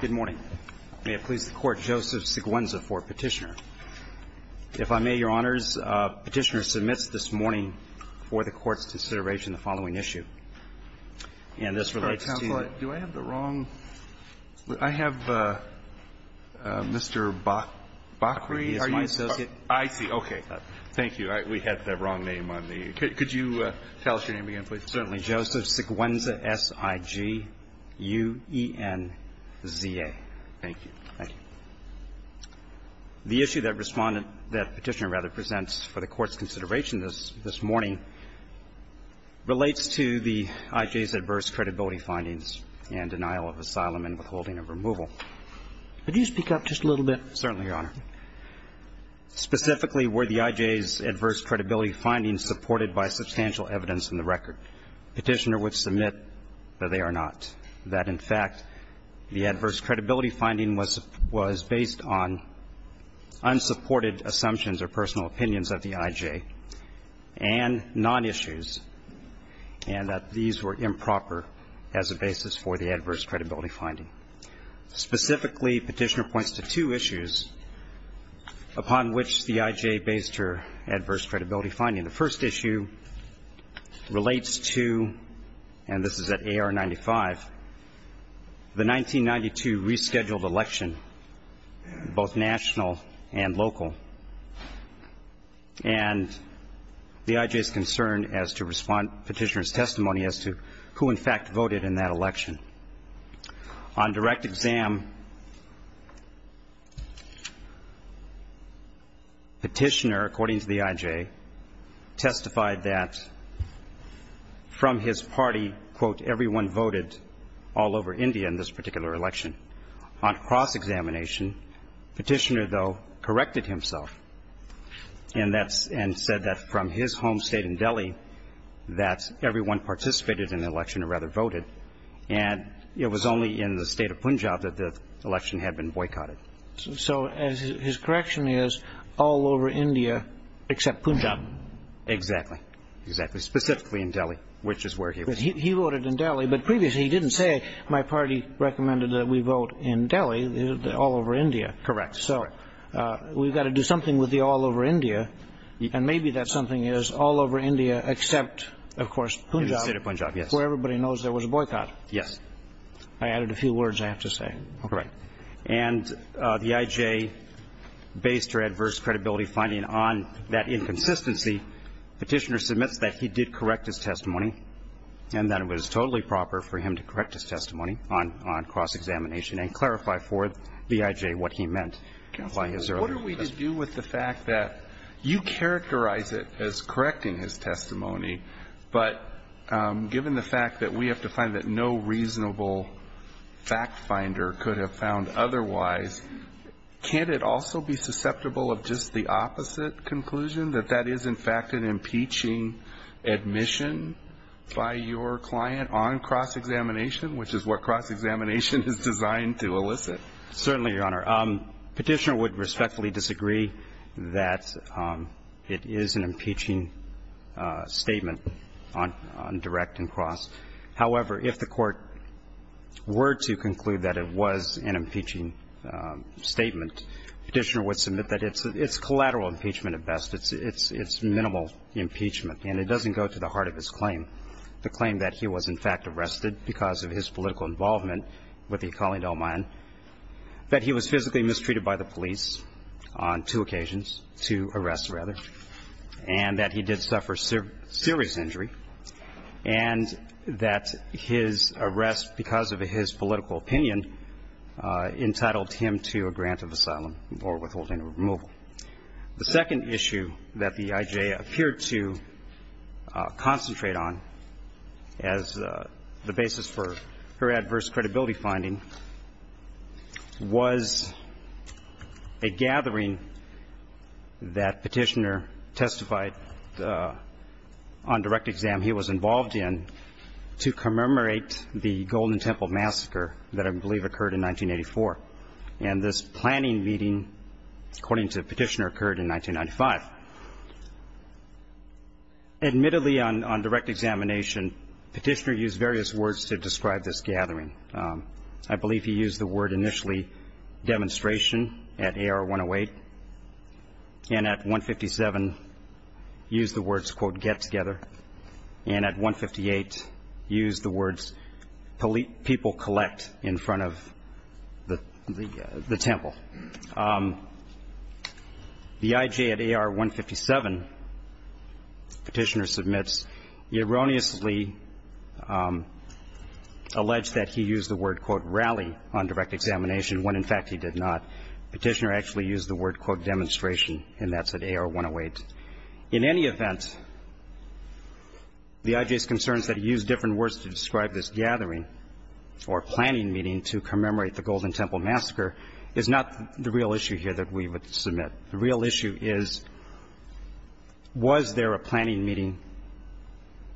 Good morning. May it please the Court, Joseph Siguenza for Petitioner. If I may, Your Honors, Petitioner submits this morning for the Court's consideration the following issue, and this relates to Counselor, do I have the wrong? I have Mr. Bakri. He is my associate. I see. Okay. Thank you. We had the wrong name on the. Could you tell us your name again, please? Certainly, Joseph Siguenza, S-I-G-U-E-N-Z-A. Thank you. Thank you. The issue that Petitioner presents for the Court's consideration this morning relates to the IJ's adverse credibility findings and denial of asylum and withholding of removal. Could you speak up just a little bit? Certainly, Your Honor. Specifically, were the IJ's adverse credibility findings supported by substantial evidence in the record? Petitioner would submit that they are not, that, in fact, the adverse credibility finding was based on unsupported assumptions or personal opinions of the IJ and nonissues, and that these were improper as a basis for the adverse credibility finding. Specifically, Petitioner points to two issues upon which the IJ based her adverse credibility finding. The first issue relates to, and this is at A.R. 95, the 1992 rescheduled election, both national and local, and the IJ's concern as to respond to Petitioner's testimony as to who, in fact, voted in that election. On direct exam, Petitioner, according to the IJ, testified that from his party, quote, everyone voted all over India in this particular election. On cross-examination, Petitioner, though, corrected himself and that's – and said that from his home state in Delhi that everyone participated in the election, or rather voted, and it was only in the state of Punjab that the election had been boycotted. So his correction is all over India except Punjab. Exactly. Exactly. Specifically in Delhi, which is where he was. He voted in Delhi, but previously he didn't say my party recommended that we vote in Delhi, all over India. Correct. Correct. So we've got to do something with the all over India, and maybe that something is all over India except, of course, Punjab. In the state of Punjab, yes. Where everybody knows there was a boycott. Yes. I added a few words, I have to say. All right. And the IJ based her adverse credibility finding on that inconsistency. Petitioner submits that he did correct his testimony and that it was totally proper for him to correct his testimony on cross-examination and clarify for the IJ what he meant by his earlier testimony. Counsel, what are we to do with the fact that you characterize it as correcting his testimony, but given the fact that we have to find that no reasonable fact finder could have found otherwise, can't it also be susceptible of just the opposite conclusion, that that is, in fact, an impeaching admission by your client on cross-examination, which is what cross-examination is designed to elicit? Certainly, Your Honor. Petitioner would respectfully disagree that it is an impeaching statement on direct and cross. However, if the Court were to conclude that it was an impeaching statement, Petitioner would submit that it's collateral impeachment at best. It's minimal impeachment. And it doesn't go to the heart of his claim. The claim that he was, in fact, arrested because of his political involvement with the Akali Dalmayan, that he was physically mistreated by the police on two occasions, two arrests, rather, and that he did suffer serious injury, and that his arrest because of his political opinion entitled him to a grant of asylum or withholding or removal. The second issue that the IJA appeared to concentrate on as the basis for her adverse credibility finding was a gathering that Petitioner testified on direct exam he was that I believe occurred in 1984. And this planning meeting, according to Petitioner, occurred in 1995. Admittedly, on direct examination, Petitioner used various words to describe this gathering. I believe he used the word, initially, demonstration at AR-108, and at 157, used the words, quote, get together, and at 158, used the words, people collect in front of the temple. The IJA at AR-157, Petitioner submits, erroneously alleged that he used the word, quote, rally on direct examination, when, in fact, he did not. Petitioner actually used the word, quote, demonstration, and that's at AR-108. In any event, the IJA's concerns that he used different words to describe this gathering or planning meeting to commemorate the Golden Temple Massacre is not the real issue here that we would submit. The real issue is, was there a planning meeting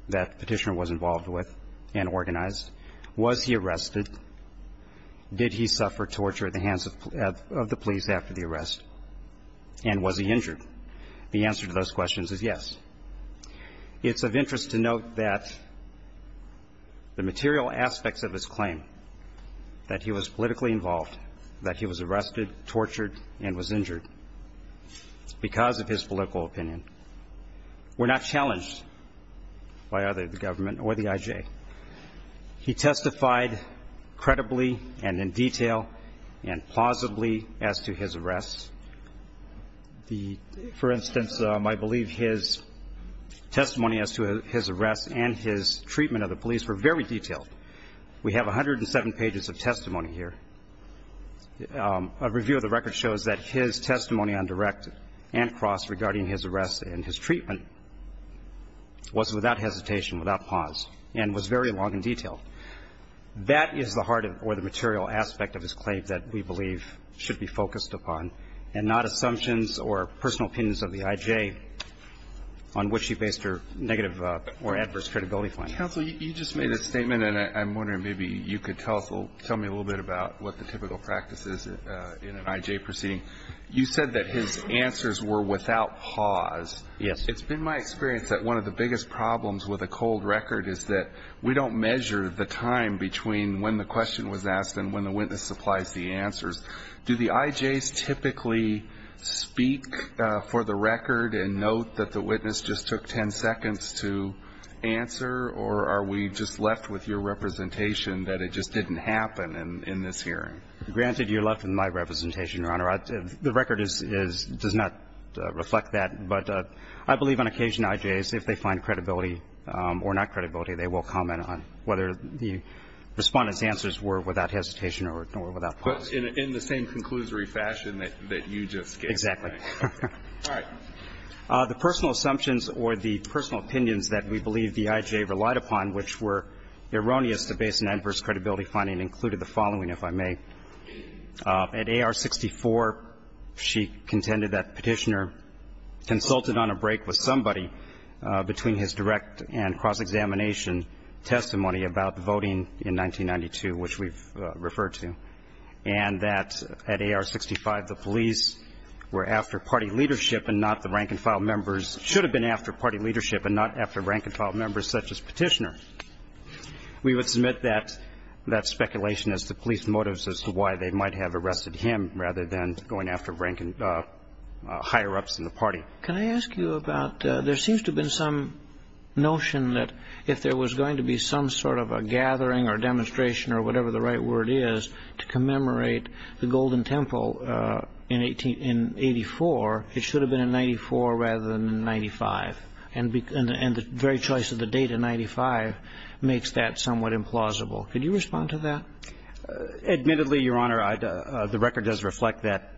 that Petitioner was involved with and organized? Was he arrested? Did he suffer torture at the hands of the police after the arrest? And was he injured? The answer to those questions is yes. It's of interest to note that the material aspects of his claim, that he was politically involved, that he was arrested, tortured, and was injured because of his political opinion, were not challenged by either the government or the IJA. He testified credibly and in detail and plausibly as to his arrests. The, for instance, I believe his testimony as to his arrest and his treatment of the police were very detailed. We have 107 pages of testimony here. A review of the record shows that his testimony on direct and cross regarding his arrest and his treatment was without hesitation, without pause, and was very long and detailed. That is the heart of or the material aspect of his claim that we believe should be focused upon and not assumptions or personal opinions of the IJA on which he based her negative or adverse credibility findings. Counsel, you just made a statement, and I'm wondering maybe you could tell us, tell me a little bit about what the typical practice is in an IJA proceeding. You said that his answers were without pause. Yes. It's been my experience that one of the biggest problems with a cold record is that we don't measure the time between when the question was asked and when the witness supplies the answers. Do the IJAs typically speak for the record and note that the witness just took 10 seconds to answer, or are we just left with your representation that it just didn't happen in this hearing? Granted, you're left with my representation, Your Honor. The record is, does not reflect that. But I believe on occasion IJAs, if they find credibility or not credibility, they will comment on whether the Respondent's answers were without hesitation or without pause. In the same conclusory fashion that you just gave. Exactly. All right. The personal assumptions or the personal opinions that we believe the IJA relied upon, which were erroneous to base an adverse credibility finding, included the following, if I may. At AR-64, she contended that Petitioner consulted on a break with somebody between his direct and cross-examination testimony about the voting in 1992, which we've referred to, and that at AR-65, the police were after party leadership and not the rank-and-file members, should have been after party leadership and not after rank-and-file members such as Petitioner. We would submit that speculation as to police motives as to why they might have arrested him rather than going after rank-and-file higher-ups in the party. Can I ask you about, there seems to have been some notion that if there was going to be some sort of a gathering or demonstration or whatever the right word is to commemorate the Golden Temple in 1884, it should have been in 94 rather than in 95, and the very choice of the date of 95 makes that somewhat implausible. Could you respond to that? Admittedly, Your Honor, the record does reflect that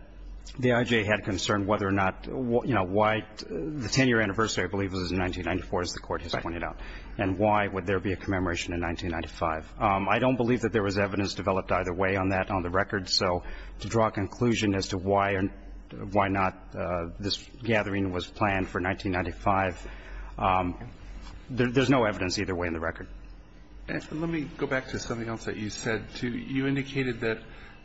the IJA had concern whether or not, you know, why the 10-year anniversary I believe was in 1994, as the Court has pointed out. And why would there be a commemoration in 1995? I don't believe that there was evidence developed either way on that on the record, so to draw a conclusion as to why or why not this gathering was planned for 1995, there's no evidence either way in the record. Let me go back to something else that you said, too. You indicated that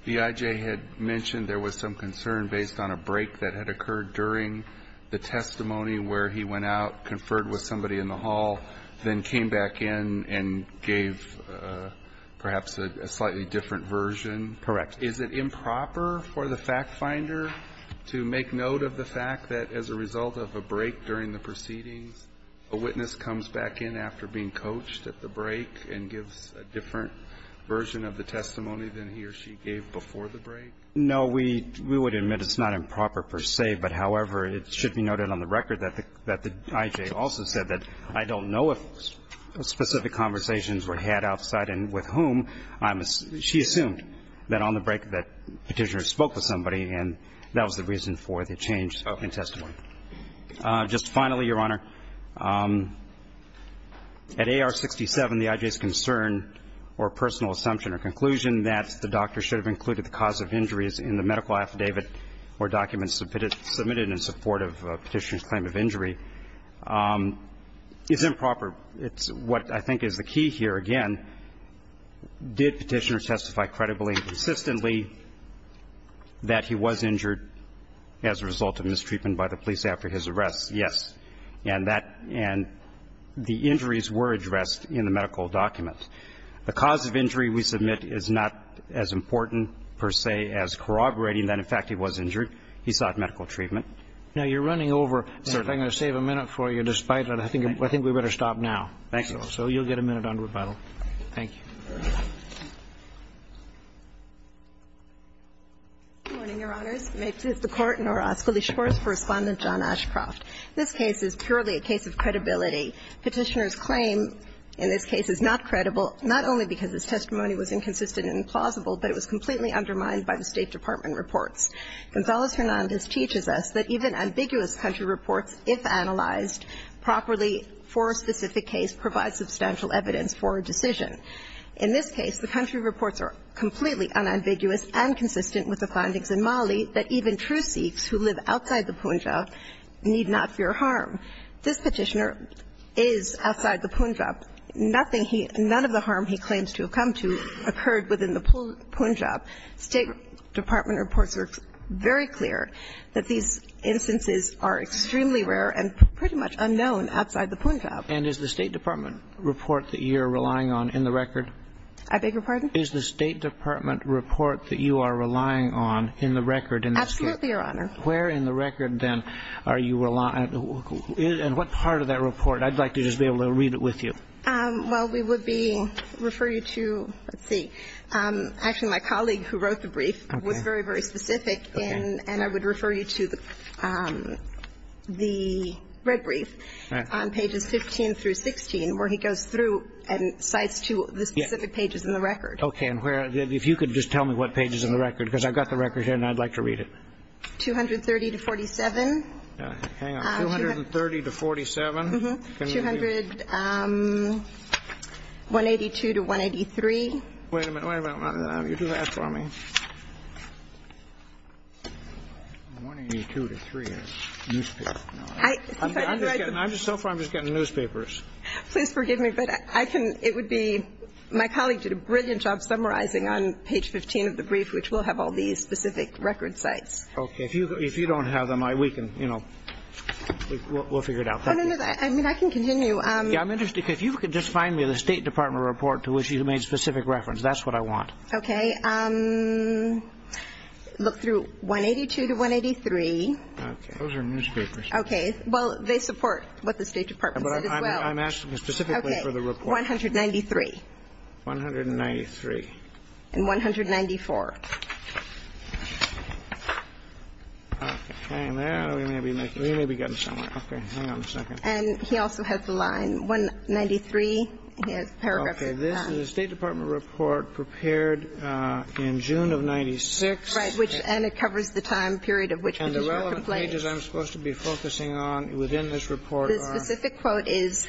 the IJA had mentioned there was some concern based on a break that had occurred during the testimony where he went out, conferred with somebody in the hall, then came back in and gave perhaps a slightly different version. Correct. Is it improper for the factfinder to make note of the fact that as a result of a break during the proceedings, a witness comes back in after being coached at the break and gives a different version of the testimony than he or she gave before the break? No. We would admit it's not improper per se, but, however, it should be noted on the record that the IJA also said that I don't know if specific conversations were had outside and with whom. She assumed that on the break that Petitioner spoke with somebody, and that was the reason for the change in testimony. Just finally, Your Honor, at AR-67, the IJA's concern or personal assumption or conclusion that the doctor should have included the cause of injuries in the medical document is improper. It's what I think is the key here. Again, did Petitioner testify credibly and consistently that he was injured as a result of mistreatment by the police after his arrest? Yes. And that the injuries were addressed in the medical document. The cause of injury, we submit, is not as important per se as corroborating that, in fact, he was injured. He sought medical treatment. Now, you're running over. Certainly. I'm going to save a minute for you. Despite that, I think we'd better stop now. Thank you. So you'll get a minute on rebuttal. Thank you. Good morning, Your Honors. May it please the Court. Norah Oscoli Shores for Respondent, John Ashcroft. This case is purely a case of credibility. Petitioner's claim in this case is not credible, not only because his testimony was inconsistent and implausible, but it was completely undermined by the State Department reports. Gonzalez-Hernandez teaches us that even ambiguous country reports, if analyzed properly for a specific case, provide substantial evidence for a decision. In this case, the country reports are completely unambiguous and consistent with the findings in Mali that even true Sikhs who live outside the Punjab need not fear harm. This Petitioner is outside the Punjab. Nothing he – none of the harm he claims to have come to occurred within the Punjab. State Department reports are very clear that these instances are extremely rare and pretty much unknown outside the Punjab. And is the State Department report that you're relying on in the record? I beg your pardon? Is the State Department report that you are relying on in the record in this case? Absolutely, Your Honor. Where in the record, then, are you – and what part of that report? I'd like to just be able to read it with you. Well, we would be – refer you to – let's see. Actually, my colleague who wrote the brief was very, very specific. Okay. And I would refer you to the red brief on pages 15 through 16, where he goes through and cites to the specific pages in the record. Okay. And where – if you could just tell me what pages in the record, because I've got the record here and I'd like to read it. 230 to 47. Hang on. 230 to 47? Mm-hmm. 200 – 182 to 183. Wait a minute. Wait a minute. You do that for me. 182 to 3. Newspaper. No. I'm just getting – so far, I'm just getting newspapers. Please forgive me, but I can – it would be – my colleague did a brilliant job summarizing on page 15 of the brief, which will have all these specific record sites. Okay. If you don't have them, we can – we'll figure it out. Oh, no, no. I mean, I can continue. Yeah, I'm interested, because if you could just find me the State Department report to which you made specific reference. That's what I want. Okay. Look through 182 to 183. Okay. Those are newspapers. Okay. Well, they support what the State Department said as well. But I'm asking specifically for the report. Okay. 193. 193. And 194. Okay. Hang there. We may be making – we may be getting somewhere. Okay. Hang on a second. And he also has the line 193. He has paragraphs of that. Okay. This is a State Department report prepared in June of 1996. Right. Which – and it covers the time period of which – And the relevant pages I'm supposed to be focusing on within this report are – The specific quote is,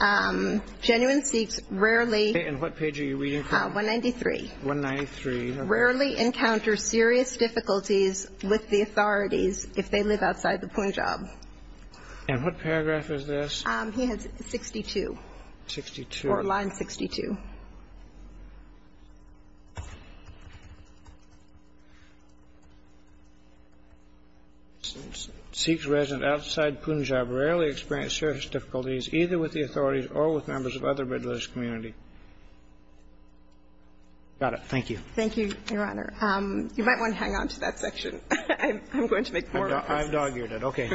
genuine Sikhs rarely – Okay. And what page are you reading from? 193. 193. Okay. Sikhs rarely encounter serious difficulties with the authorities if they live outside the Punjab. And what paragraph is this? He has 62. 62. Or line 62. Sikhs resident outside Punjab rarely experience serious difficulties either with the authorities or with members of other religious community. Got it. Thank you. Thank you, Your Honor. You might want to hang on to that section. I'm going to make more of this. I'm dog-eared. Okay.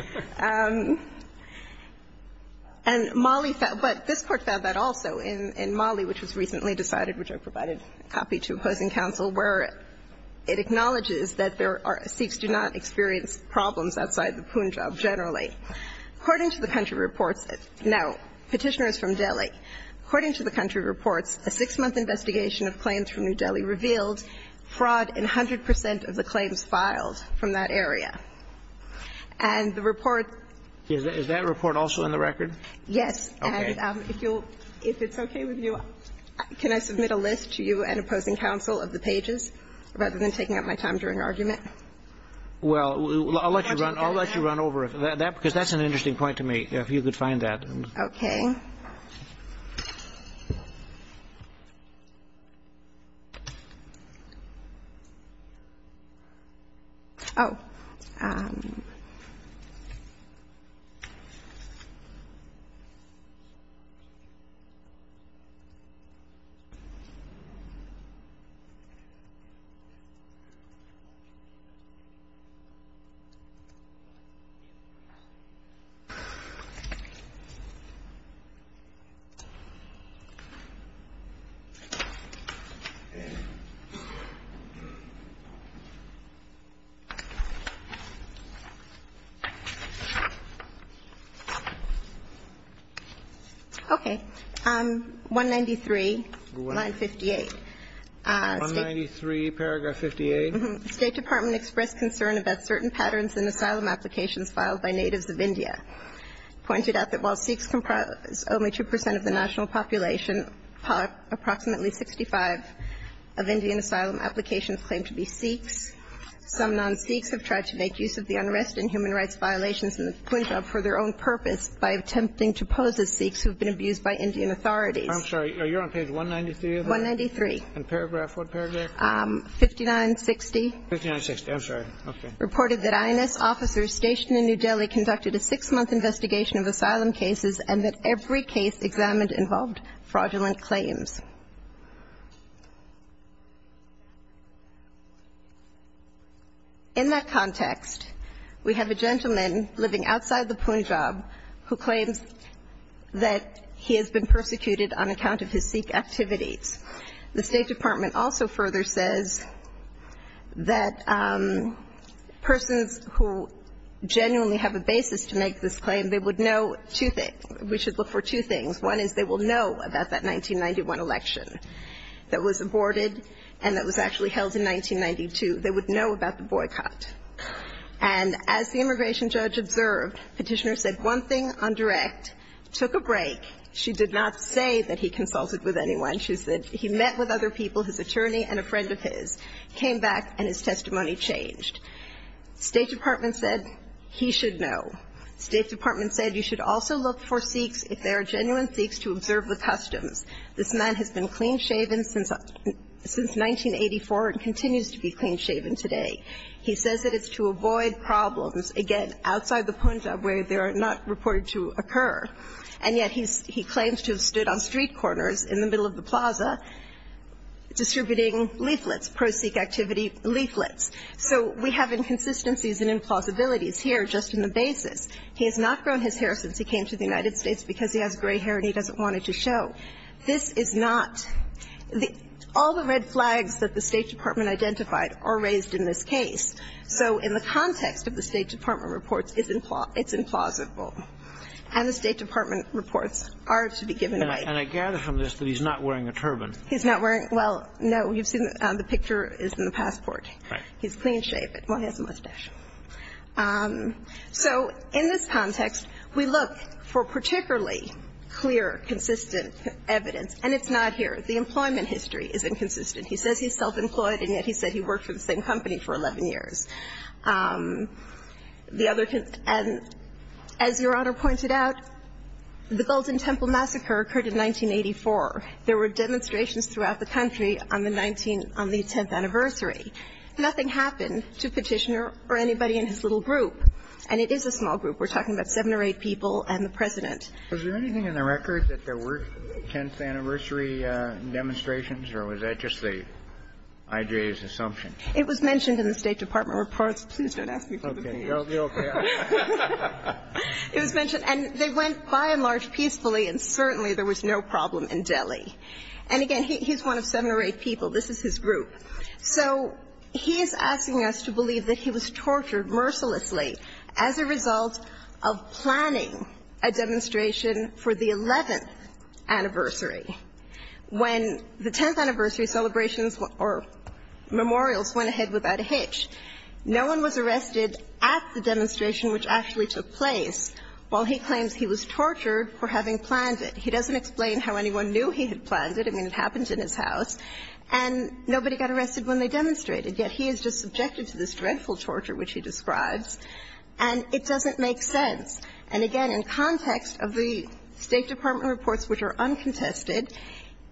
And Mali – but this Court found that also in Mali, which was recently decided, which I provided a copy to opposing counsel, where it acknowledges that there are – Sikhs do not experience problems outside the Punjab generally. According to the country reports – now, Petitioner is from Delhi. According to the country reports, a six-month investigation of claims from New Delhi revealed fraud in 100 percent of the claims filed from that area. And the report – Is that report also in the record? Yes. Okay. And if you'll – if it's okay with you, can I submit a list to you and opposing counsel of the pages, rather than taking up my time during argument? Well, I'll let you run – I'll let you run over it. Because that's an interesting point to me, if you could find that. Okay. Oh. Okay. Okay. 193, line 58. 193, paragraph 58. State Department expressed concern about certain patterns in asylum applications filed by natives of India. Pointed out that while Sikhs comprise only 2 percent of the national population, approximately 65 of Indian asylum applications claim to be Sikhs. Some non-Sikhs have tried to make use of the unrest in human rights violations in the Punjab for their own purpose by attempting to pose as Sikhs who have been abused by Indian authorities. I'm sorry. Are you on page 193 of that? 193. And paragraph – what paragraph? 5960. 5960. I'm sorry. Okay. Reported that INS officers stationed in New Delhi conducted a six-month investigation of asylum cases and that every case examined involved fraudulent claims. In that context, we have a gentleman living outside the Punjab who claims that he has been persecuted on account of his Sikh activities. The State Department also further says that persons who genuinely have a basis to make this claim, they would know two things. We should look for two things. One is they will know about that 1991 election that was aborted and that was actually held in 1992. They would know about the boycott. And as the immigration judge observed, Petitioner said one thing on direct, took a break. She did not say that he consulted with anyone. She said he met with other people, his attorney and a friend of his, came back and his testimony changed. State Department said he should know. State Department said you should also look for Sikhs if they are genuine Sikhs to observe the customs. This man has been clean-shaven since 1984 and continues to be clean-shaven today. He says that it's to avoid problems, again, outside the Punjab where they are not reported to occur. And yet he claims to have stood on street corners in the middle of the plaza distributing leaflets, pro-Sikh activity leaflets. So we have inconsistencies and implausibilities here just in the basis. He has not grown his hair since he came to the United States because he has gray hair and he doesn't want it to show. This is not the – all the red flags that the State Department identified are raised in this case. So in the context of the State Department reports, it's implausible. And the State Department reports are to be given weight. And I gather from this that he's not wearing a turban. He's not wearing – well, no. You've seen the picture is in the passport. Right. He's clean-shaven. Well, he has a mustache. So in this context, we look for particularly clear, consistent evidence, and it's not here. The employment history is inconsistent. He says he's self-employed and yet he said he worked for the same company for 11 years. The other – and as Your Honor pointed out, the Golden Temple Massacre occurred in 1984. There were demonstrations throughout the country on the 19 – on the 10th anniversary. Nothing happened to Petitioner or anybody in his little group. And it is a small group. We're talking about seven or eight people and the President. Was there anything in the record that there were 10th anniversary demonstrations or was that just the I.J.'s assumption? It was mentioned in the State Department reports. Please don't ask me for the details. Okay. You'll be okay. It was mentioned. And they went by and large peacefully and certainly there was no problem in Delhi. And again, he's one of seven or eight people. This is his group. So he is asking us to believe that he was tortured mercilessly as a result of planning a demonstration for the 11th anniversary. When the 10th anniversary celebrations or memorials went ahead without a hitch, no one was arrested at the demonstration which actually took place while he claims he was tortured for having planned it. He doesn't explain how anyone knew he had planned it. I mean, it happened in his house. And nobody got arrested when they demonstrated, yet he is just subjected to this dreadful torture which he describes. And it doesn't make sense. And again, in context of the State Department reports which are uncontested,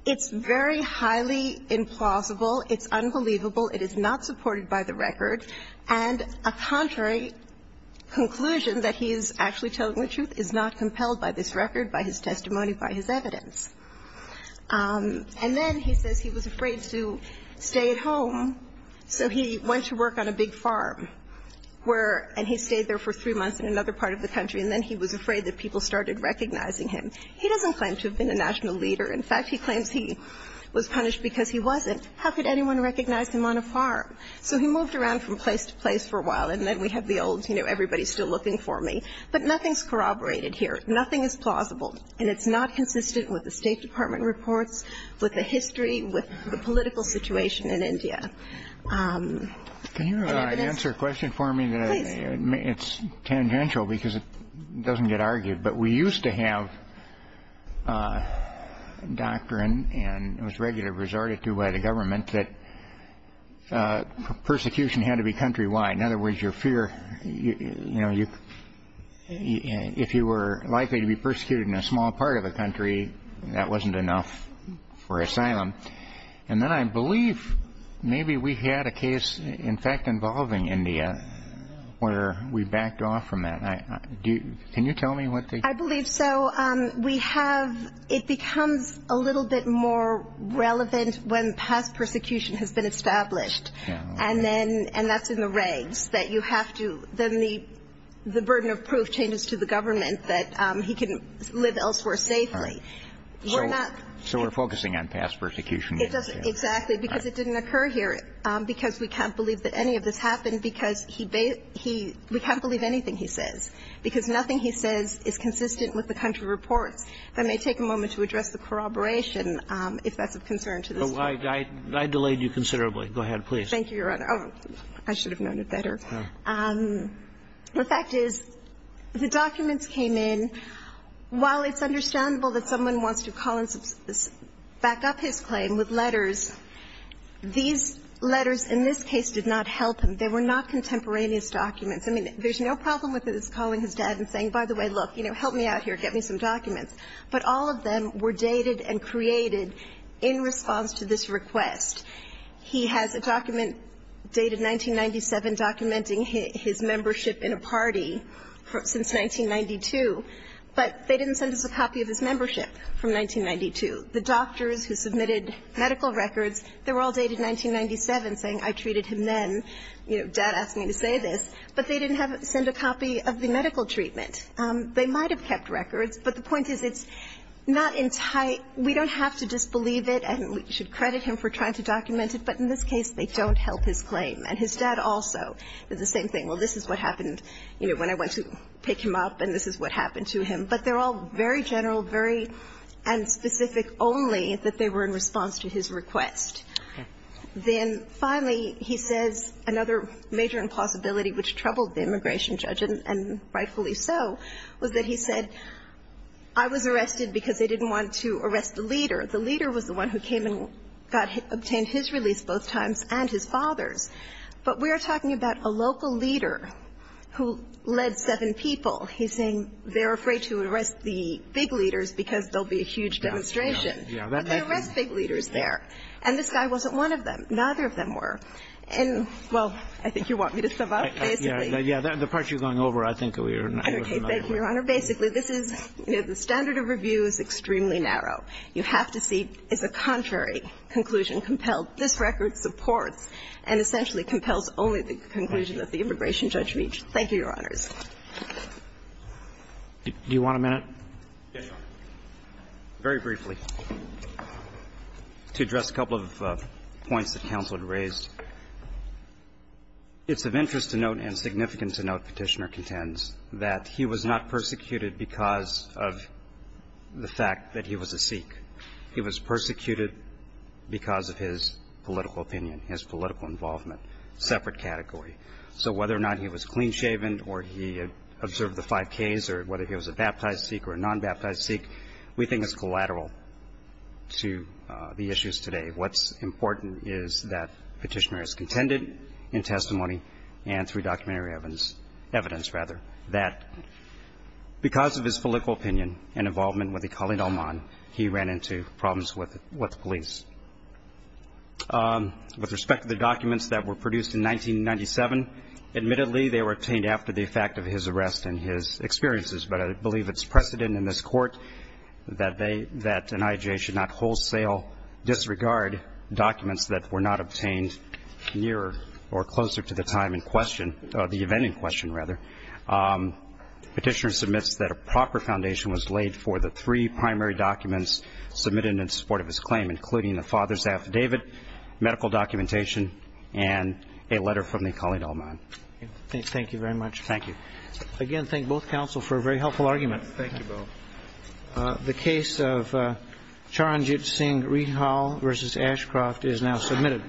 it's very highly implausible. It's unbelievable. It is not supported by the record. And a contrary conclusion that he is actually telling the truth is not compelled by this record, by his testimony, by his evidence. And then he says he was afraid to stay at home, so he went to work on a big farm and he stayed there for three months in another part of the country and then he was afraid that people started recognizing him. He doesn't claim to have been a national leader. In fact, he claims he was punished because he wasn't. How could anyone recognize him on a farm? So he moved around from place to place for a while. And then we have the old, you know, everybody is still looking for me. But nothing is corroborated here. Nothing is plausible. And it's not consistent with the State Department reports, with the history, with the political situation in India. Can you answer a question for me? Please. It's tangential because it doesn't get argued. But we used to have doctrine, and it was regularly resorted to by the government, that persecution had to be countrywide. In other words, your fear, you know, if you were likely to be persecuted in a small part of the country, that wasn't enough for asylum. And then I believe maybe we had a case, in fact, involving India, where we backed off from that. Can you tell me what the ---- I believe so. We have, it becomes a little bit more relevant when past persecution has been established. And then, and that's in the regs, that you have to, then the burden of proof changes to the government that he can live elsewhere safely. We're not ---- So we're focusing on past persecution. Exactly. Because it didn't occur here, because we can't believe that any of this happened because he, we can't believe anything he says, because nothing he says is consistent with the country reports. Let me take a moment to address the corroboration, if that's of concern to this Court. I delayed you considerably. Go ahead, please. Thank you, Your Honor. I should have known it better. The fact is, the documents came in. While it's understandable that someone wants to call and back up his claim with letters, these letters in this case did not help him. They were not contemporaneous documents. I mean, there's no problem with his calling his dad and saying, by the way, look, you know, help me out here, get me some documents. But all of them were dated and created in response to this request. He has a document dated 1997 documenting his membership in a party since 1992. But they didn't send us a copy of his membership from 1992. The doctors who submitted medical records, they were all dated 1997, saying I treated him then. You know, dad asked me to say this. But they didn't send a copy of the medical treatment. They might have kept records, but the point is it's not in tight ---- we don't have to disbelieve it. And we should credit him for trying to document it. But in this case, they don't help his claim. And his dad also did the same thing. Well, this is what happened, you know, when I went to pick him up, and this is what happened to him. But they're all very general, very ---- and specific only that they were in response to his request. Then finally, he says another major impossibility which troubled the immigration judge, and rightfully so, was that he said, I was arrested because they didn't want to arrest the leader. The leader was the one who came and got his ---- obtained his release both times and his father's. But we are talking about a local leader who led seven people. He's saying they're afraid to arrest the big leaders because there will be a huge demonstration. But they arrest big leaders there. And this guy wasn't one of them. Neither of them were. And, well, I think you want me to sum up, basically. Yeah. The part you're going over, I think, we are not familiar with. Thank you, Your Honor. Basically, this is ---- the standard of review is extremely narrow. You have to see is a contrary conclusion compelled. This record supports and essentially compels only the conclusion that the immigration judge reached. Thank you, Your Honors. Do you want a minute? Yes, Your Honor. Very briefly, to address a couple of points that counsel had raised. It's of interest to note and significant to note, Petitioner contends, that he was not persecuted because of the fact that he was a Sikh. He was persecuted because of his political opinion, his political involvement, separate category. So whether or not he was clean-shaven or he observed the five Ks or whether he was a baptized Sikh or a non-baptized Sikh, we think it's collateral to the issues today. What's important is that Petitioner has contended in testimony and through documentary evidence, evidence, rather, that because of his political opinion and involvement with the Khalid al-Man, he ran into problems with the police. With respect to the documents that were produced in 1997, admittedly, they were obtained after the effect of his arrest and his experiences, but I believe it's precedent in this Court that they ---- that an I.I.J. should not wholesale disregard documents that were not obtained nearer or closer to the time in question, the event in question, rather. Petitioner submits that a proper foundation was laid for the three primary documents submitted in support of his claim, including the father's affidavit, medical documentation, and a letter from the Khalid al-Man. Thank you very much. Thank you. Again, thank both counsel for a very helpful argument. Thank you both. The case of Charanjit Singh Rehal v. Ashcroft is now submitted.